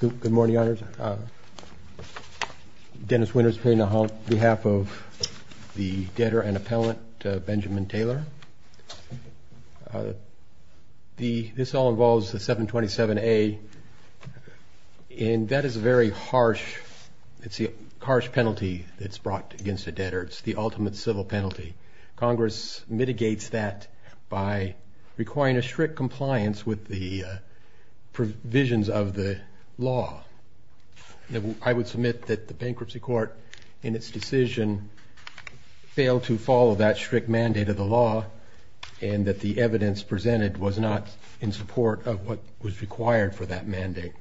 Good morning, Your Honors. Dennis Winters here on behalf of the Debtor and Appellant Benjamin Taylor. This all involves the 727-A, and that is a very harsh, it's a harsh penalty that's brought against a debtor. It's the ultimate civil penalty. Congress mitigates that by requiring a strict compliance with the Debtor and Appellant. provisions of the law. I would submit that the bankruptcy court, in its decision, failed to follow that strict mandate of the law, and that the evidence presented was not in support of what was required for that mandate.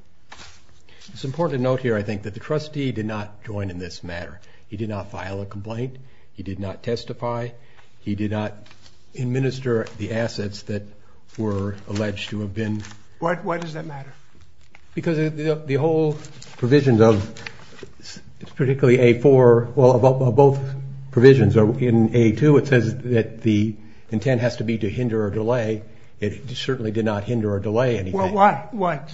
It's important to note here, I think, that the trustee did not join in this matter. He did not file a complaint. He did not testify. He did not administer the assets that were alleged to have been... Why does that matter? Because the whole provisions of, particularly A-4, well, of both provisions, in A-2 it says that the intent has to be to hinder or delay. It certainly did not hinder or delay anything. Why?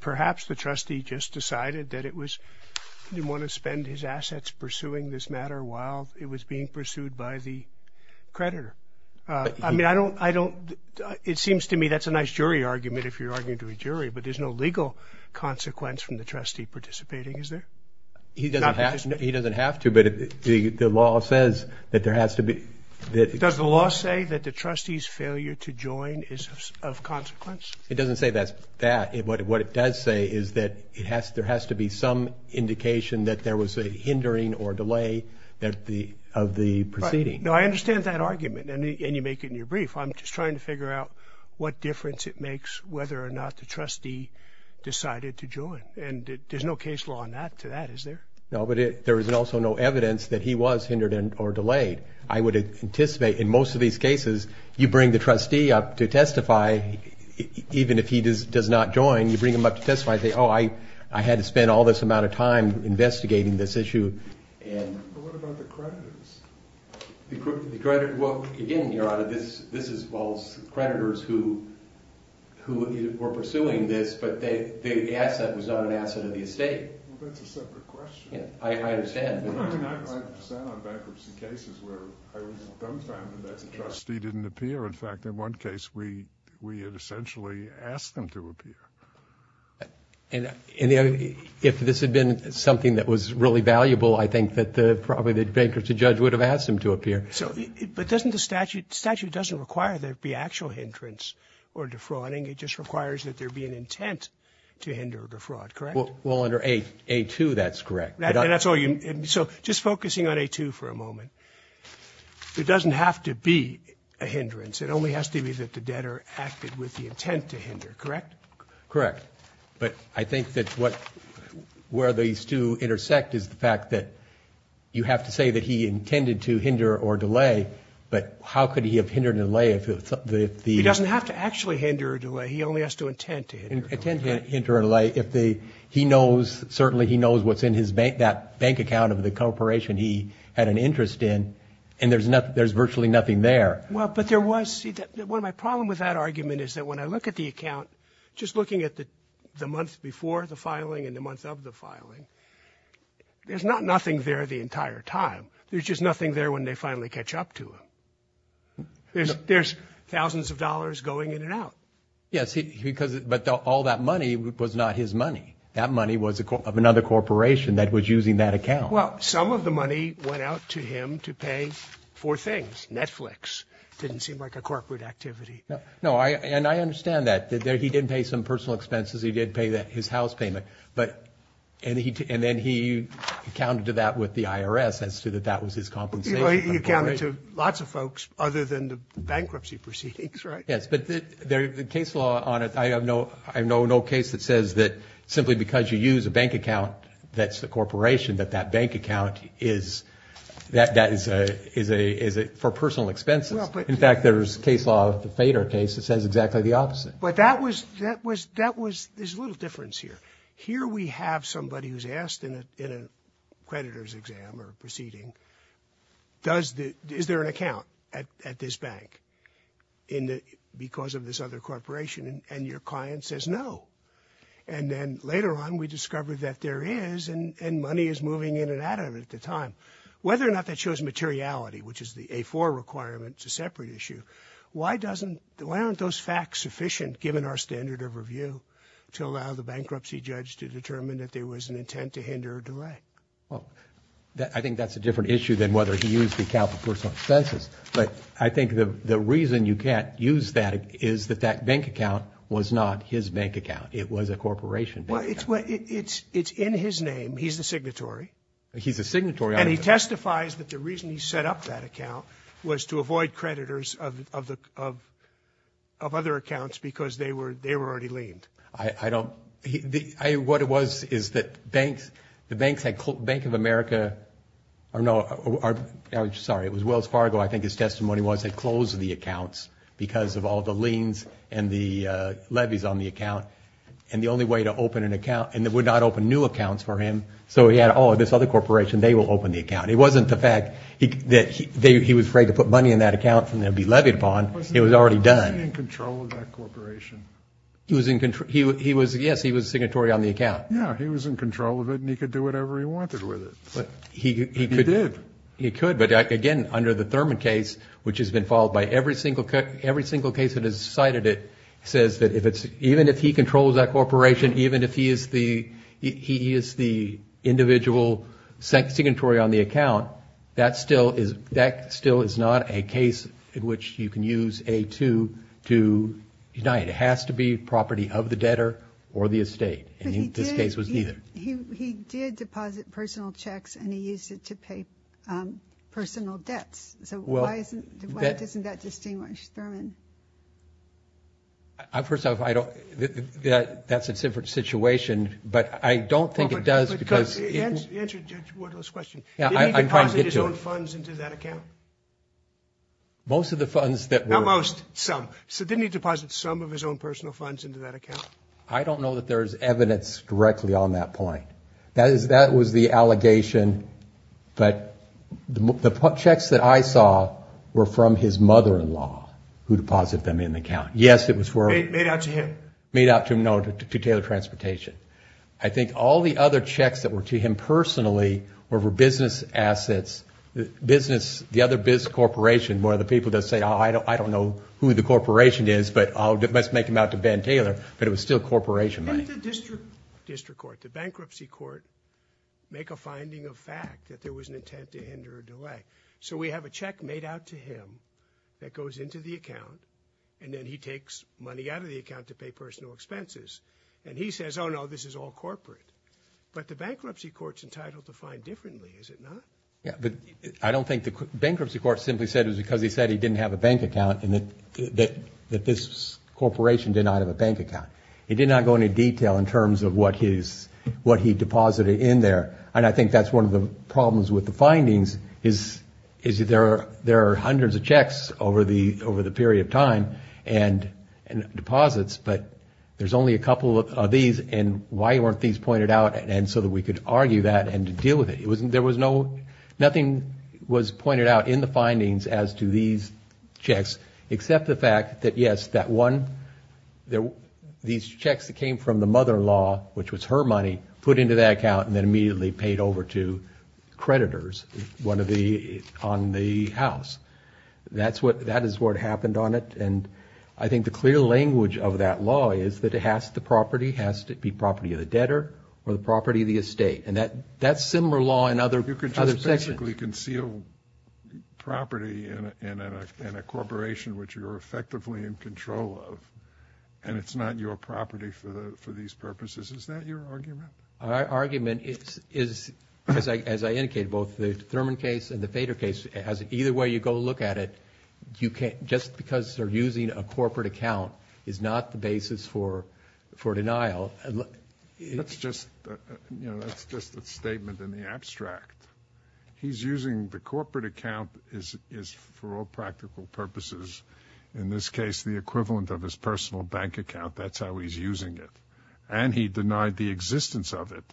Perhaps the trustee just decided that he didn't want to spend his assets pursuing this matter while it was being pursued by the creditor. I mean, it seems to me that's a nice jury argument if you're arguing to a jury, but there's no legal consequence from the trustee participating, is there? He doesn't have to, but the law says that there has to be... Does the law say that the trustee's failure to join is of consequence? It doesn't say that. What it does say is that there has to be some indication that there was a hindering or delay of the proceeding. Now, I understand that argument, and you make it in your brief. I'm just trying to figure out what difference it makes whether or not the trustee decided to join, and there's no case law on that to that, is there? No, but there is also no evidence that he was hindered or delayed. I would anticipate in most of these cases, you bring the trustee up to testify, even if he does not join, you bring him up to testify and say, oh, I had to spend all this amount of time investigating this issue. But what about the creditors? Well, again, Your Honor, this involves creditors who were pursuing this, but the asset was not an asset of the estate. Well, that's a separate question. I understand. I understand on bankruptcy cases where I was dumbfounded that the trustee didn't appear. In fact, in one case, we had essentially asked him to appear. And if this had been something that was really valuable, I think that probably the bankruptcy judge would have asked him to appear. But doesn't the statute require there to be actual hindrance or defrauding? It just requires that there be an intent to hinder or defraud, correct? Well, under A2, that's correct. And that's all you need. So just focusing on A2 for a moment, there doesn't have to be a hindrance. It only has to be that the debtor acted with the intent to hinder, correct? Correct. But I think that where these two intersect is the fact that you have to say that he intended to hinder or delay, but how could he have hindered or delayed if the... He doesn't have to actually hinder or delay. He only has to intend to hinder or delay. Intend to hinder or delay if the... He knows, certainly he knows what's in that bank account of the corporation he had an interest in, and there's virtually nothing there. Well, but there was... See, one of my problems with that argument is that when I look at the account, just looking at the month before the filing and the month of the filing, there's not nothing there the entire time. There's just nothing there when they finally catch up to him. There's thousands of dollars going in and out. Yes, but all that money was not his money. That money was of another corporation that was using that account. Well, some of the money went out to him to pay for things. Netflix didn't seem like a corporate activity. No, and I understand that. He didn't pay some personal expenses. He did pay his house payment, and then he accounted to that with the IRS as to that that was his compensation. He accounted to lots of folks other than the bankruptcy proceedings, right? Yes, but the case law on it, I have no case that says that simply because you use a bank account that's the corporation, that that bank account is for personal expenses. In fact, there's case law, the FADER case, that says exactly the opposite. But that was... There's a little difference here. Here we have somebody who's asked in a creditor's exam or proceeding, is there an account at this bank because of this other corporation? And your client says no. And then later on, we discover that there is, and money is moving in and out of it at the time. Whether or not that shows materiality, which is the A4 requirement, it's a separate issue, why aren't those facts sufficient, given our standard of review, to allow the bankruptcy judge to determine that there was an intent to hinder or delay? Well, I think that's a different issue than whether he used the account for personal expenses. But I think the reason you can't use that is that that bank account was not his bank account. It was a corporation bank account. Well, it's in his name. He's the signatory. He's the signatory. And he testifies that the reason he set up that account was to avoid creditors of other accounts because they were already liened. I don't, what it was is that banks, the banks had, Bank of America, I'm sorry, it was Wells Fargo, I think his testimony was they closed the accounts because of all the liens and the levies on the account. And the only way to open an account, and they would not open new accounts for him, so he had, oh, this other corporation, they will open the account. It wasn't the fact that he was afraid to put money in that account and it would be levied upon. It was already done. He was in control of that corporation. He was in control. He was, yes, he was signatory on the account. Yeah, he was in control of it and he could do whatever he wanted with it. He could. He did. He could. But, again, under the Thurman case, which has been followed by every single case that has cited it, says that even if he controls that corporation, even if he is the individual signatory on the account, that still is not a case in which you can use A-2 to deny it. It has to be property of the debtor or the estate. And this case was neither. But he did deposit personal checks and he used it to pay personal debts. So why isn't that distinguished, Thurman? First off, that's a different situation, but I don't think it does because. Answer Judge Wardle's question. Didn't he deposit his own funds into that account? Most of the funds that were. Not most, some. Didn't he deposit some of his own personal funds into that account? I don't know that there is evidence directly on that point. That was the allegation. But the checks that I saw were from his mother-in-law who deposited them in the account. Yes, it was. Made out to him. Made out to him, no, to Taylor Transportation. I think all the other checks that were to him personally were for business assets. The other business corporation, one of the people does say, I don't know who the corporation is, but let's make them out to Ben Taylor. But it was still corporation money. Didn't the district court, the bankruptcy court, make a finding of fact that there was an intent to hinder or delay? So we have a check made out to him that goes into the account and then he takes money out of the account to pay personal expenses. And he says, oh, no, this is all corporate. But the bankruptcy court's entitled to find differently, is it not? Yeah, but I don't think the bankruptcy court simply said it was because he said he didn't have a bank account and that this corporation did not have a bank account. It did not go into detail in terms of what he deposited in there. And I think that's one of the problems with the findings is there are hundreds of checks over the period of time and deposits, but there's only a couple of these. And why weren't these pointed out? And so that we could argue that and deal with it. There was no, nothing was pointed out in the findings as to these checks, except the fact that, yes, that one, these checks that came from the mother-in-law, which was her money, put into that account and then immediately paid over to creditors on the house. That is what happened on it. And I think the clear language of that law is that it has to be property of the debtor or the property of the estate. And that's similar law in other sections. You could just basically conceal property in a corporation which you're effectively in control of, and it's not your property for these purposes. Is that your argument? My argument is, as I indicated, both the Thurman case and the Fader case, either way you go look at it, just because they're using a corporate account is not the basis for denial. That's just a statement in the abstract. He's using the corporate account for all practical purposes, in this case the equivalent of his personal bank account. That's how he's using it. And he denied the existence of it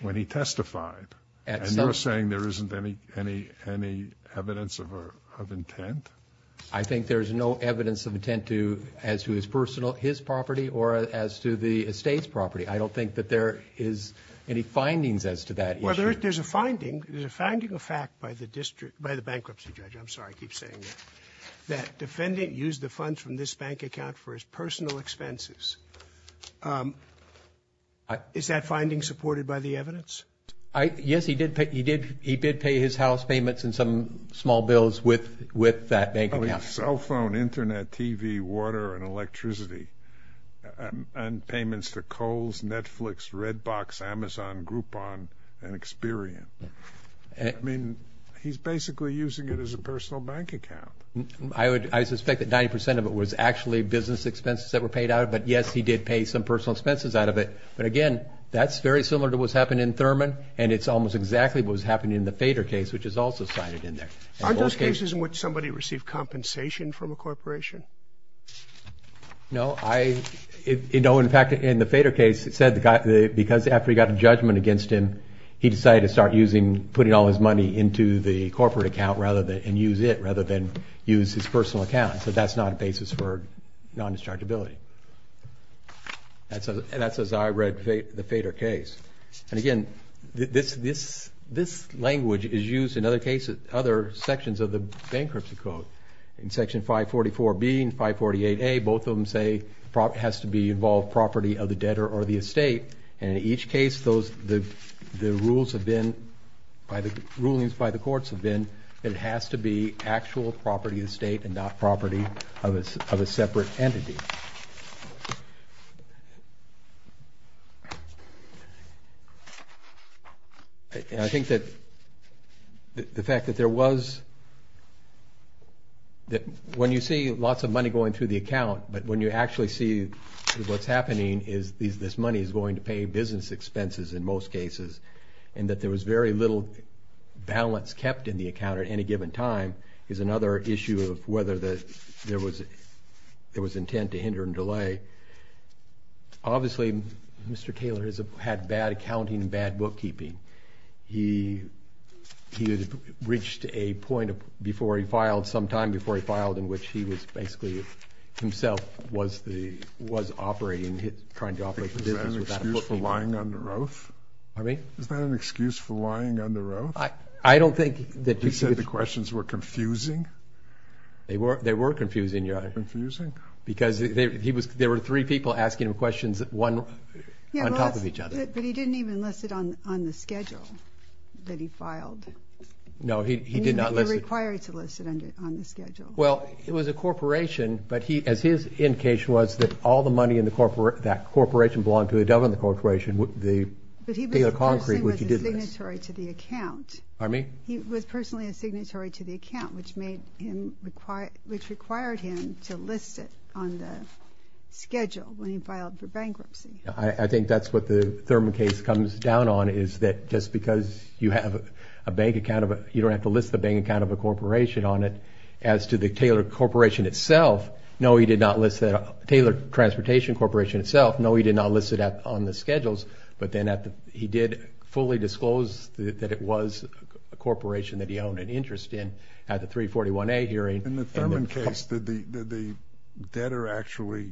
when he testified. And you're saying there isn't any evidence of intent? I think there's no evidence of intent as to his personal, his property, or as to the estate's property. I don't think that there is any findings as to that issue. Well, there's a finding. There's a finding of fact by the bankruptcy judge, I'm sorry, I keep saying that, that defendant used the funds from this bank account for his personal expenses. Is that finding supported by the evidence? Yes, he did pay his house payments and some small bills with that bank account. Cell phone, Internet, TV, water, and electricity, and payments to Kohl's, Netflix, Redbox, Amazon, Groupon, and Experian. I mean, he's basically using it as a personal bank account. I suspect that 90% of it was actually business expenses that were paid out of it, but yes, he did pay some personal expenses out of it. But again, that's very similar to what's happened in Thurman, and it's almost exactly what was happening in the Fader case, which is also cited in there. Aren't those cases in which somebody received compensation from a corporation? No. In fact, in the Fader case, it said because after he got a judgment against him, he decided to start using, putting all his money into the corporate account and use it rather than use his personal account. So that's not a basis for non-dischargeability. That's as I read the Fader case. And again, this language is used in other sections of the bankruptcy code. In Section 544B and 548A, both of them say it has to involve property of the debtor or the estate, and in each case, the rulings by the courts have been that it has to be actual property of the state and not property of a separate entity. And I think that the fact that there was that when you see lots of money going through the account, but when you actually see what's happening is this money is going to pay business expenses in most cases, and that there was very little balance kept in the account at any given time is another issue of whether there was intent to hinder and delay. Obviously, Mr. Taylor has had bad accounting and bad bookkeeping. He had reached a point before he filed, sometime before he filed, in which he was basically himself was operating, trying to operate the business without a bookkeeping. Is that an excuse for lying under oath? He said the questions were confusing? They were confusing, Your Honor. Confusing? Because there were three people asking him questions, one on top of each other. But he didn't even list it on the schedule that he filed. No, he did not list it. He required to list it on the schedule. Well, it was a corporation, but as his indication was, that all the money in that corporation belonged to a government corporation, the Taylor Concrete, which he did list. But he personally was a signatory to the account. Pardon me? He was personally a signatory to the account, which required him to list it on the schedule when he filed for bankruptcy. I think that's what the Thurman case comes down on, is that just because you don't have to list the bank account of a corporation on it, as to the Taylor Transportation Corporation itself, no, he did not list it on the schedules, but then he did fully disclose that it was a corporation that he owned an interest in at the 341A hearing. In the Thurman case, did the debtor actually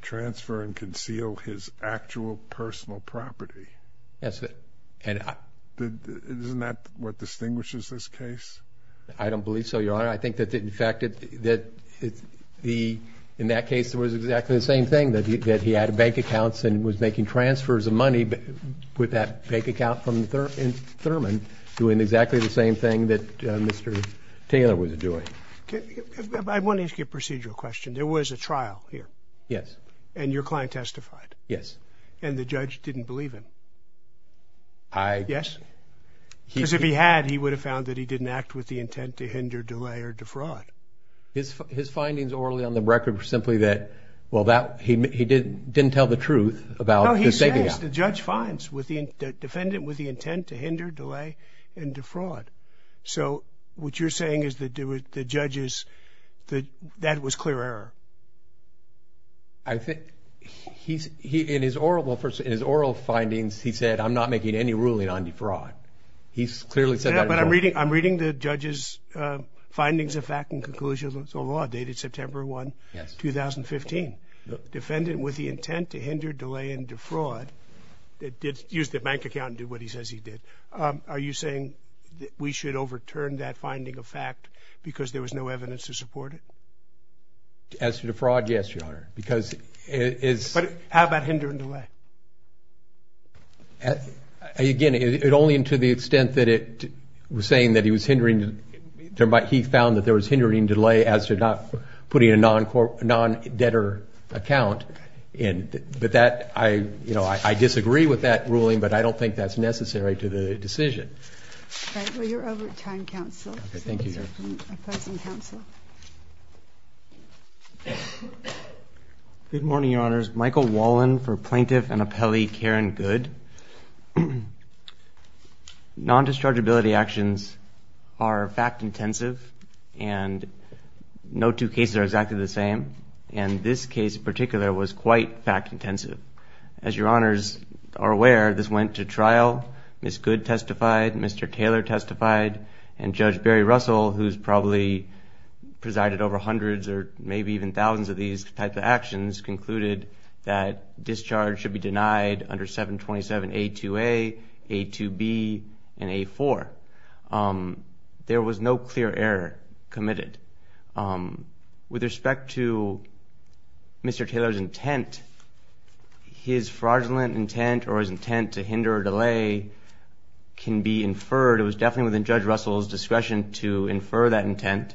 transfer and conceal his actual personal property? Yes. Isn't that what distinguishes this case? I don't believe so, Your Honor. I think that, in fact, in that case it was exactly the same thing, that he had bank accounts and was making transfers of money with that bank account from Thurman, doing exactly the same thing that Mr. Taylor was doing. I want to ask you a procedural question. There was a trial here. Yes. And your client testified. Yes. And the judge didn't believe him? Yes. Because if he had, he would have found that he didn't act with the intent to hinder, delay, or defraud. His findings orally on the record were simply that, well, he didn't tell the truth about the savings. No, he says the judge finds the defendant with the intent to hinder, delay, and defraud. So what you're saying is that the judge is, that that was clear error? I think he's, in his oral findings, he said, I'm not making any ruling on defraud. He's clearly said that. But I'm reading the judge's findings of fact and conclusions of law dated September 1, 2015. Defendant with the intent to hinder, delay, and defraud, used the bank account and did what he says he did. Are you saying that we should overturn that finding of fact because there was no evidence to support it? As to defraud, yes, Your Honor, because it is. But how about hindering delay? Again, only to the extent that it was saying that he was hindering, he found that there was hindering delay as to not putting a non-debtor account in. But that, you know, I disagree with that ruling, but I don't think that's necessary to the decision. All right. Thank you, Your Honor. I present counsel. Good morning, Your Honors. Michael Wallen for Plaintiff and Appellee Karen Good. Non-dischargeability actions are fact-intensive, and no two cases are exactly the same. And this case in particular was quite fact-intensive. As Your Honors are aware, this went to trial. Ms. Good testified, Mr. Taylor testified, and Judge Barry Russell, who's probably presided over hundreds or maybe even thousands of these types of actions, concluded that discharge should be denied under 727A2A, A2B, and A4. There was no clear error committed. With respect to Mr. Taylor's intent, his fraudulent intent or his intent to hinder or delay can be inferred. It was definitely within Judge Russell's discretion to infer that intent.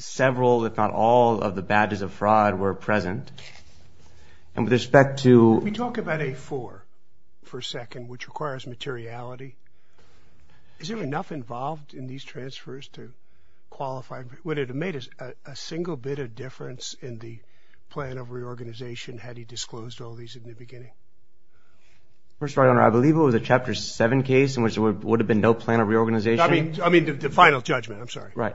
Several, if not all, of the badges of fraud were present. And with respect to – Let me talk about A4 for a second, which requires materiality. Is there enough involved in these transfers to qualify? Would it have made a single bit of difference in the plan of reorganization had he disclosed all these in the beginning? First, Your Honor, I believe it was a Chapter 7 case in which there would have been no plan of reorganization. I mean, the final judgment. I'm sorry. Right.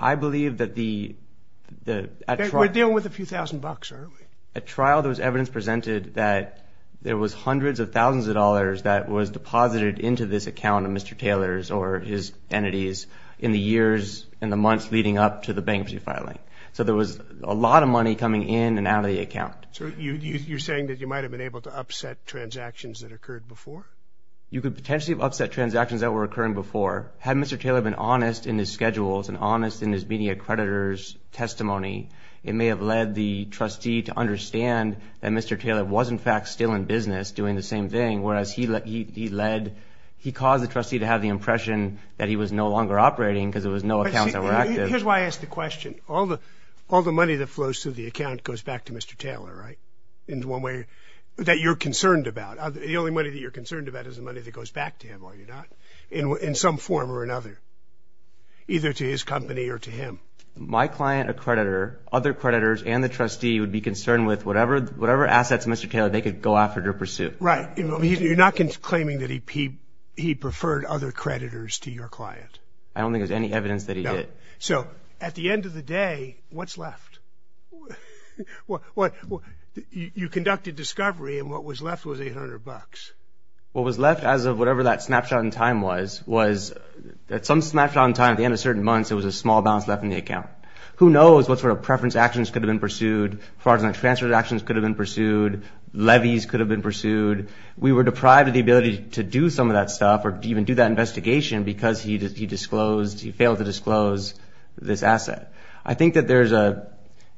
I believe that the – We're dealing with a few thousand bucks, aren't we? At trial, there was evidence presented that there was hundreds of thousands of dollars that was deposited into this account of Mr. Taylor's or his entities in the years and the months leading up to the bankruptcy filing. So there was a lot of money coming in and out of the account. So you're saying that you might have been able to upset transactions that occurred before? You could potentially have upset transactions that were occurring before. Had Mr. Taylor been honest in his schedules and honest in his media creditors' testimony, it may have led the trustee to understand that Mr. Taylor was, in fact, still in business doing the same thing, whereas he led – he caused the trustee to have the impression that he was no longer operating because there was no accounts that were active. Here's why I ask the question. All the money that flows through the account goes back to Mr. Taylor, right? In one way – that you're concerned about. The only money that you're concerned about is the money that goes back to him, are you not? In some form or another, either to his company or to him. My client, a creditor, other creditors, and the trustee would be concerned with whatever assets Mr. Taylor – they could go after to pursue. Right. You're not claiming that he preferred other creditors to your client. I don't think there's any evidence that he did. No. So at the end of the day, what's left? You conducted discovery, and what was left was $800. What was left, as of whatever that snapshot in time was, was that some snapshot in time, at the end of certain months, there was a small balance left in the account. Who knows what sort of preference actions could have been pursued, fraudulent transfer actions could have been pursued, levies could have been pursued. We were deprived of the ability to do some of that stuff or even do that investigation because he disclosed – he failed to disclose this asset. I think that there's an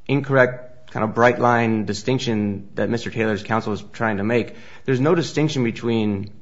incorrect kind of bright-line distinction that Mr. Taylor's counsel is trying to make. There's no distinction between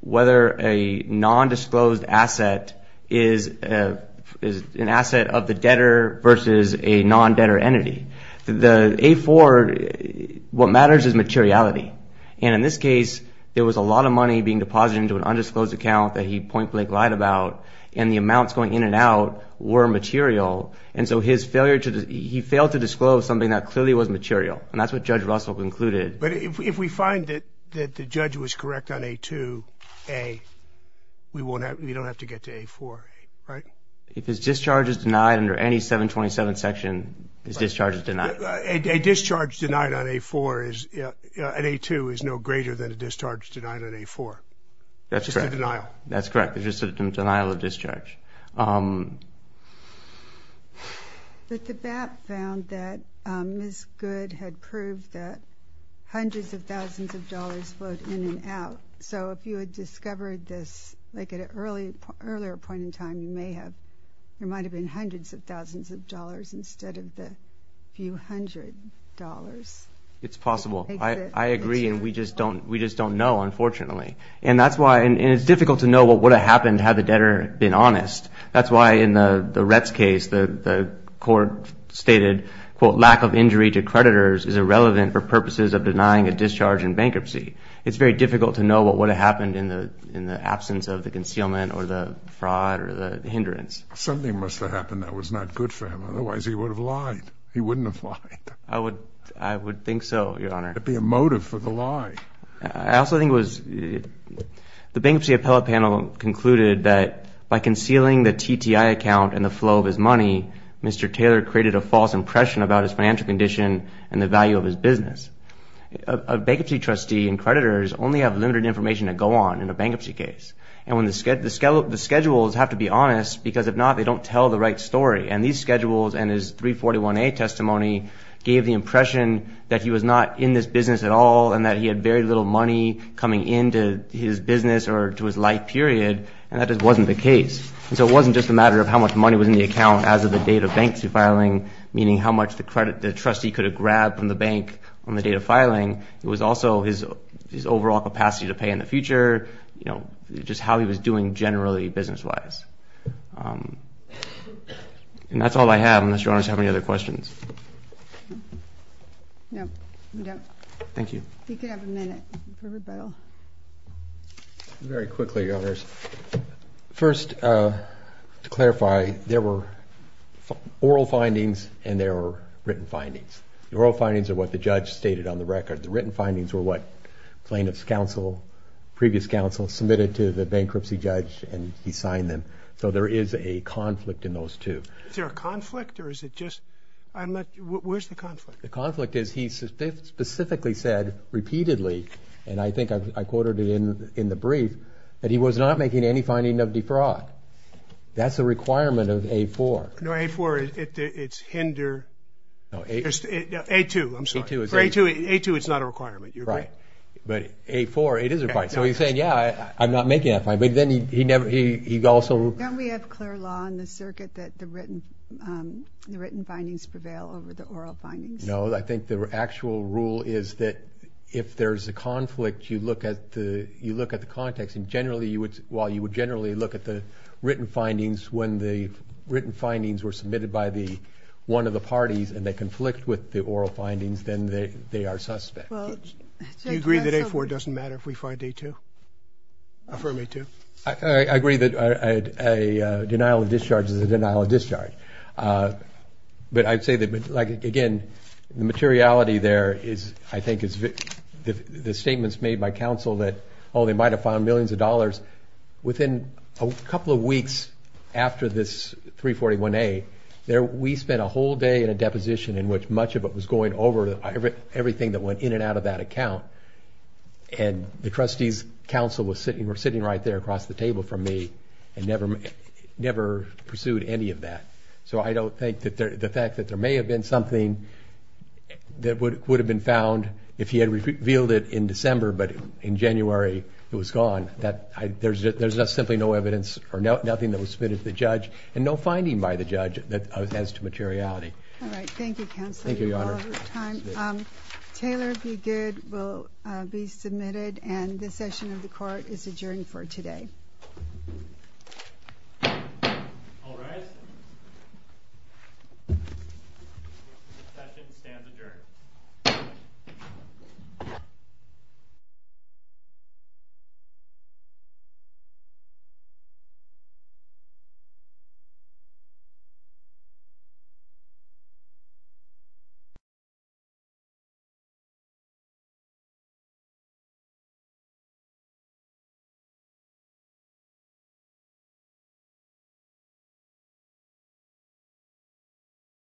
whether a nondisclosed asset is an asset of the debtor versus a nondebtor entity. The A-4, what matters is materiality. And in this case, there was a lot of money being deposited into an undisclosed account that he point-blank lied about, and the amounts going in and out were material. And so his failure to – he failed to disclose something that clearly was material, and that's what Judge Russell concluded. But if we find that the judge was correct on A-2A, we won't have – we don't have to get to A-4, right? If his discharge is denied under any 727 section, his discharge is denied. A discharge denied on A-4 is – at A-2 is no greater than a discharge denied on A-4. That's correct. It's just a denial. That's correct. It's just a denial of discharge. But the BAP found that Ms. Goode had proved that hundreds of thousands of dollars flowed in and out. So if you had discovered this like at an earlier point in time, you may have – there might have been hundreds of thousands of dollars instead of the few hundred dollars. It's possible. I agree, and we just don't know, unfortunately. And that's why – and it's difficult to know what would have happened had the debtor been honest. That's why in the Retz case, the court stated, quote, lack of injury to creditors is irrelevant for purposes of denying a discharge in bankruptcy. It's very difficult to know what would have happened in the absence of the concealment or the fraud or the hindrance. Something must have happened that was not good for him. Otherwise, he would have lied. He wouldn't have lied. I would think so, Your Honor. It would be a motive for the lie. I also think it was – the Bankruptcy Appellate Panel concluded that by concealing the TTI account and the flow of his money, Mr. Taylor created a false impression about his financial condition and the value of his business. A bankruptcy trustee and creditors only have limited information to go on in a bankruptcy case. And the schedules have to be honest because if not, they don't tell the right story. And these schedules and his 341A testimony gave the impression that he was not in this business at all and that he had very little money coming into his business or to his life period, and that just wasn't the case. And so it wasn't just a matter of how much money was in the account as of the date of bankruptcy filing, meaning how much the trustee could have grabbed from the bank on the date of filing. It was also his overall capacity to pay in the future, you know, just how he was doing generally business-wise. And that's all I have unless Your Honors have any other questions. No, we don't. Thank you. We could have a minute for rebuttal. Very quickly, Your Honors. First, to clarify, there were oral findings and there were written findings. The oral findings are what the judge stated on the record. The written findings were what plaintiff's counsel, previous counsel, submitted to the bankruptcy judge, and he signed them. So there is a conflict in those two. Is there a conflict or is it just I'm not, where's the conflict? The conflict is he specifically said repeatedly, and I think I quoted it in the brief, that he was not making any finding of defraud. That's a requirement of A-4. No, A-4, it's hinder. No, A-2. I'm sorry. For A-2, it's not a requirement. You agree? Right. But A-4, it is a requirement. So he's saying, yeah, I'm not making that finding. But then he never, he also. Don't we have clear law in the circuit that the written findings prevail over the oral findings? No, I think the actual rule is that if there's a conflict, you look at the context, and generally you would, well, you would generally look at the written findings when the written findings were submitted by one of the parties and they conflict with the oral findings, then they are suspect. Do you agree that A-4 doesn't matter if we find A-2? Affirm A-2? I agree that a denial of discharge is a denial of discharge. But I'd say that, again, the materiality there is, I think, the statements made by counsel that, oh, they might have found millions of dollars. Within a couple of weeks after this 341A, we spent a whole day in a deposition in which much of it was going over everything that went in and out of that account, and the trustee's counsel were sitting right there across the table from me and never pursued any of that. So I don't think that the fact that there may have been something that would have been found if he had revealed it in December but in January it was gone, there's simply no evidence or nothing that was submitted to the judge and no finding by the judge as to materiality. All right, thank you, Counselor. Thank you, Your Honor. Taylor, if you're good, will be submitted, and this session of the court is adjourned for today. Thank you.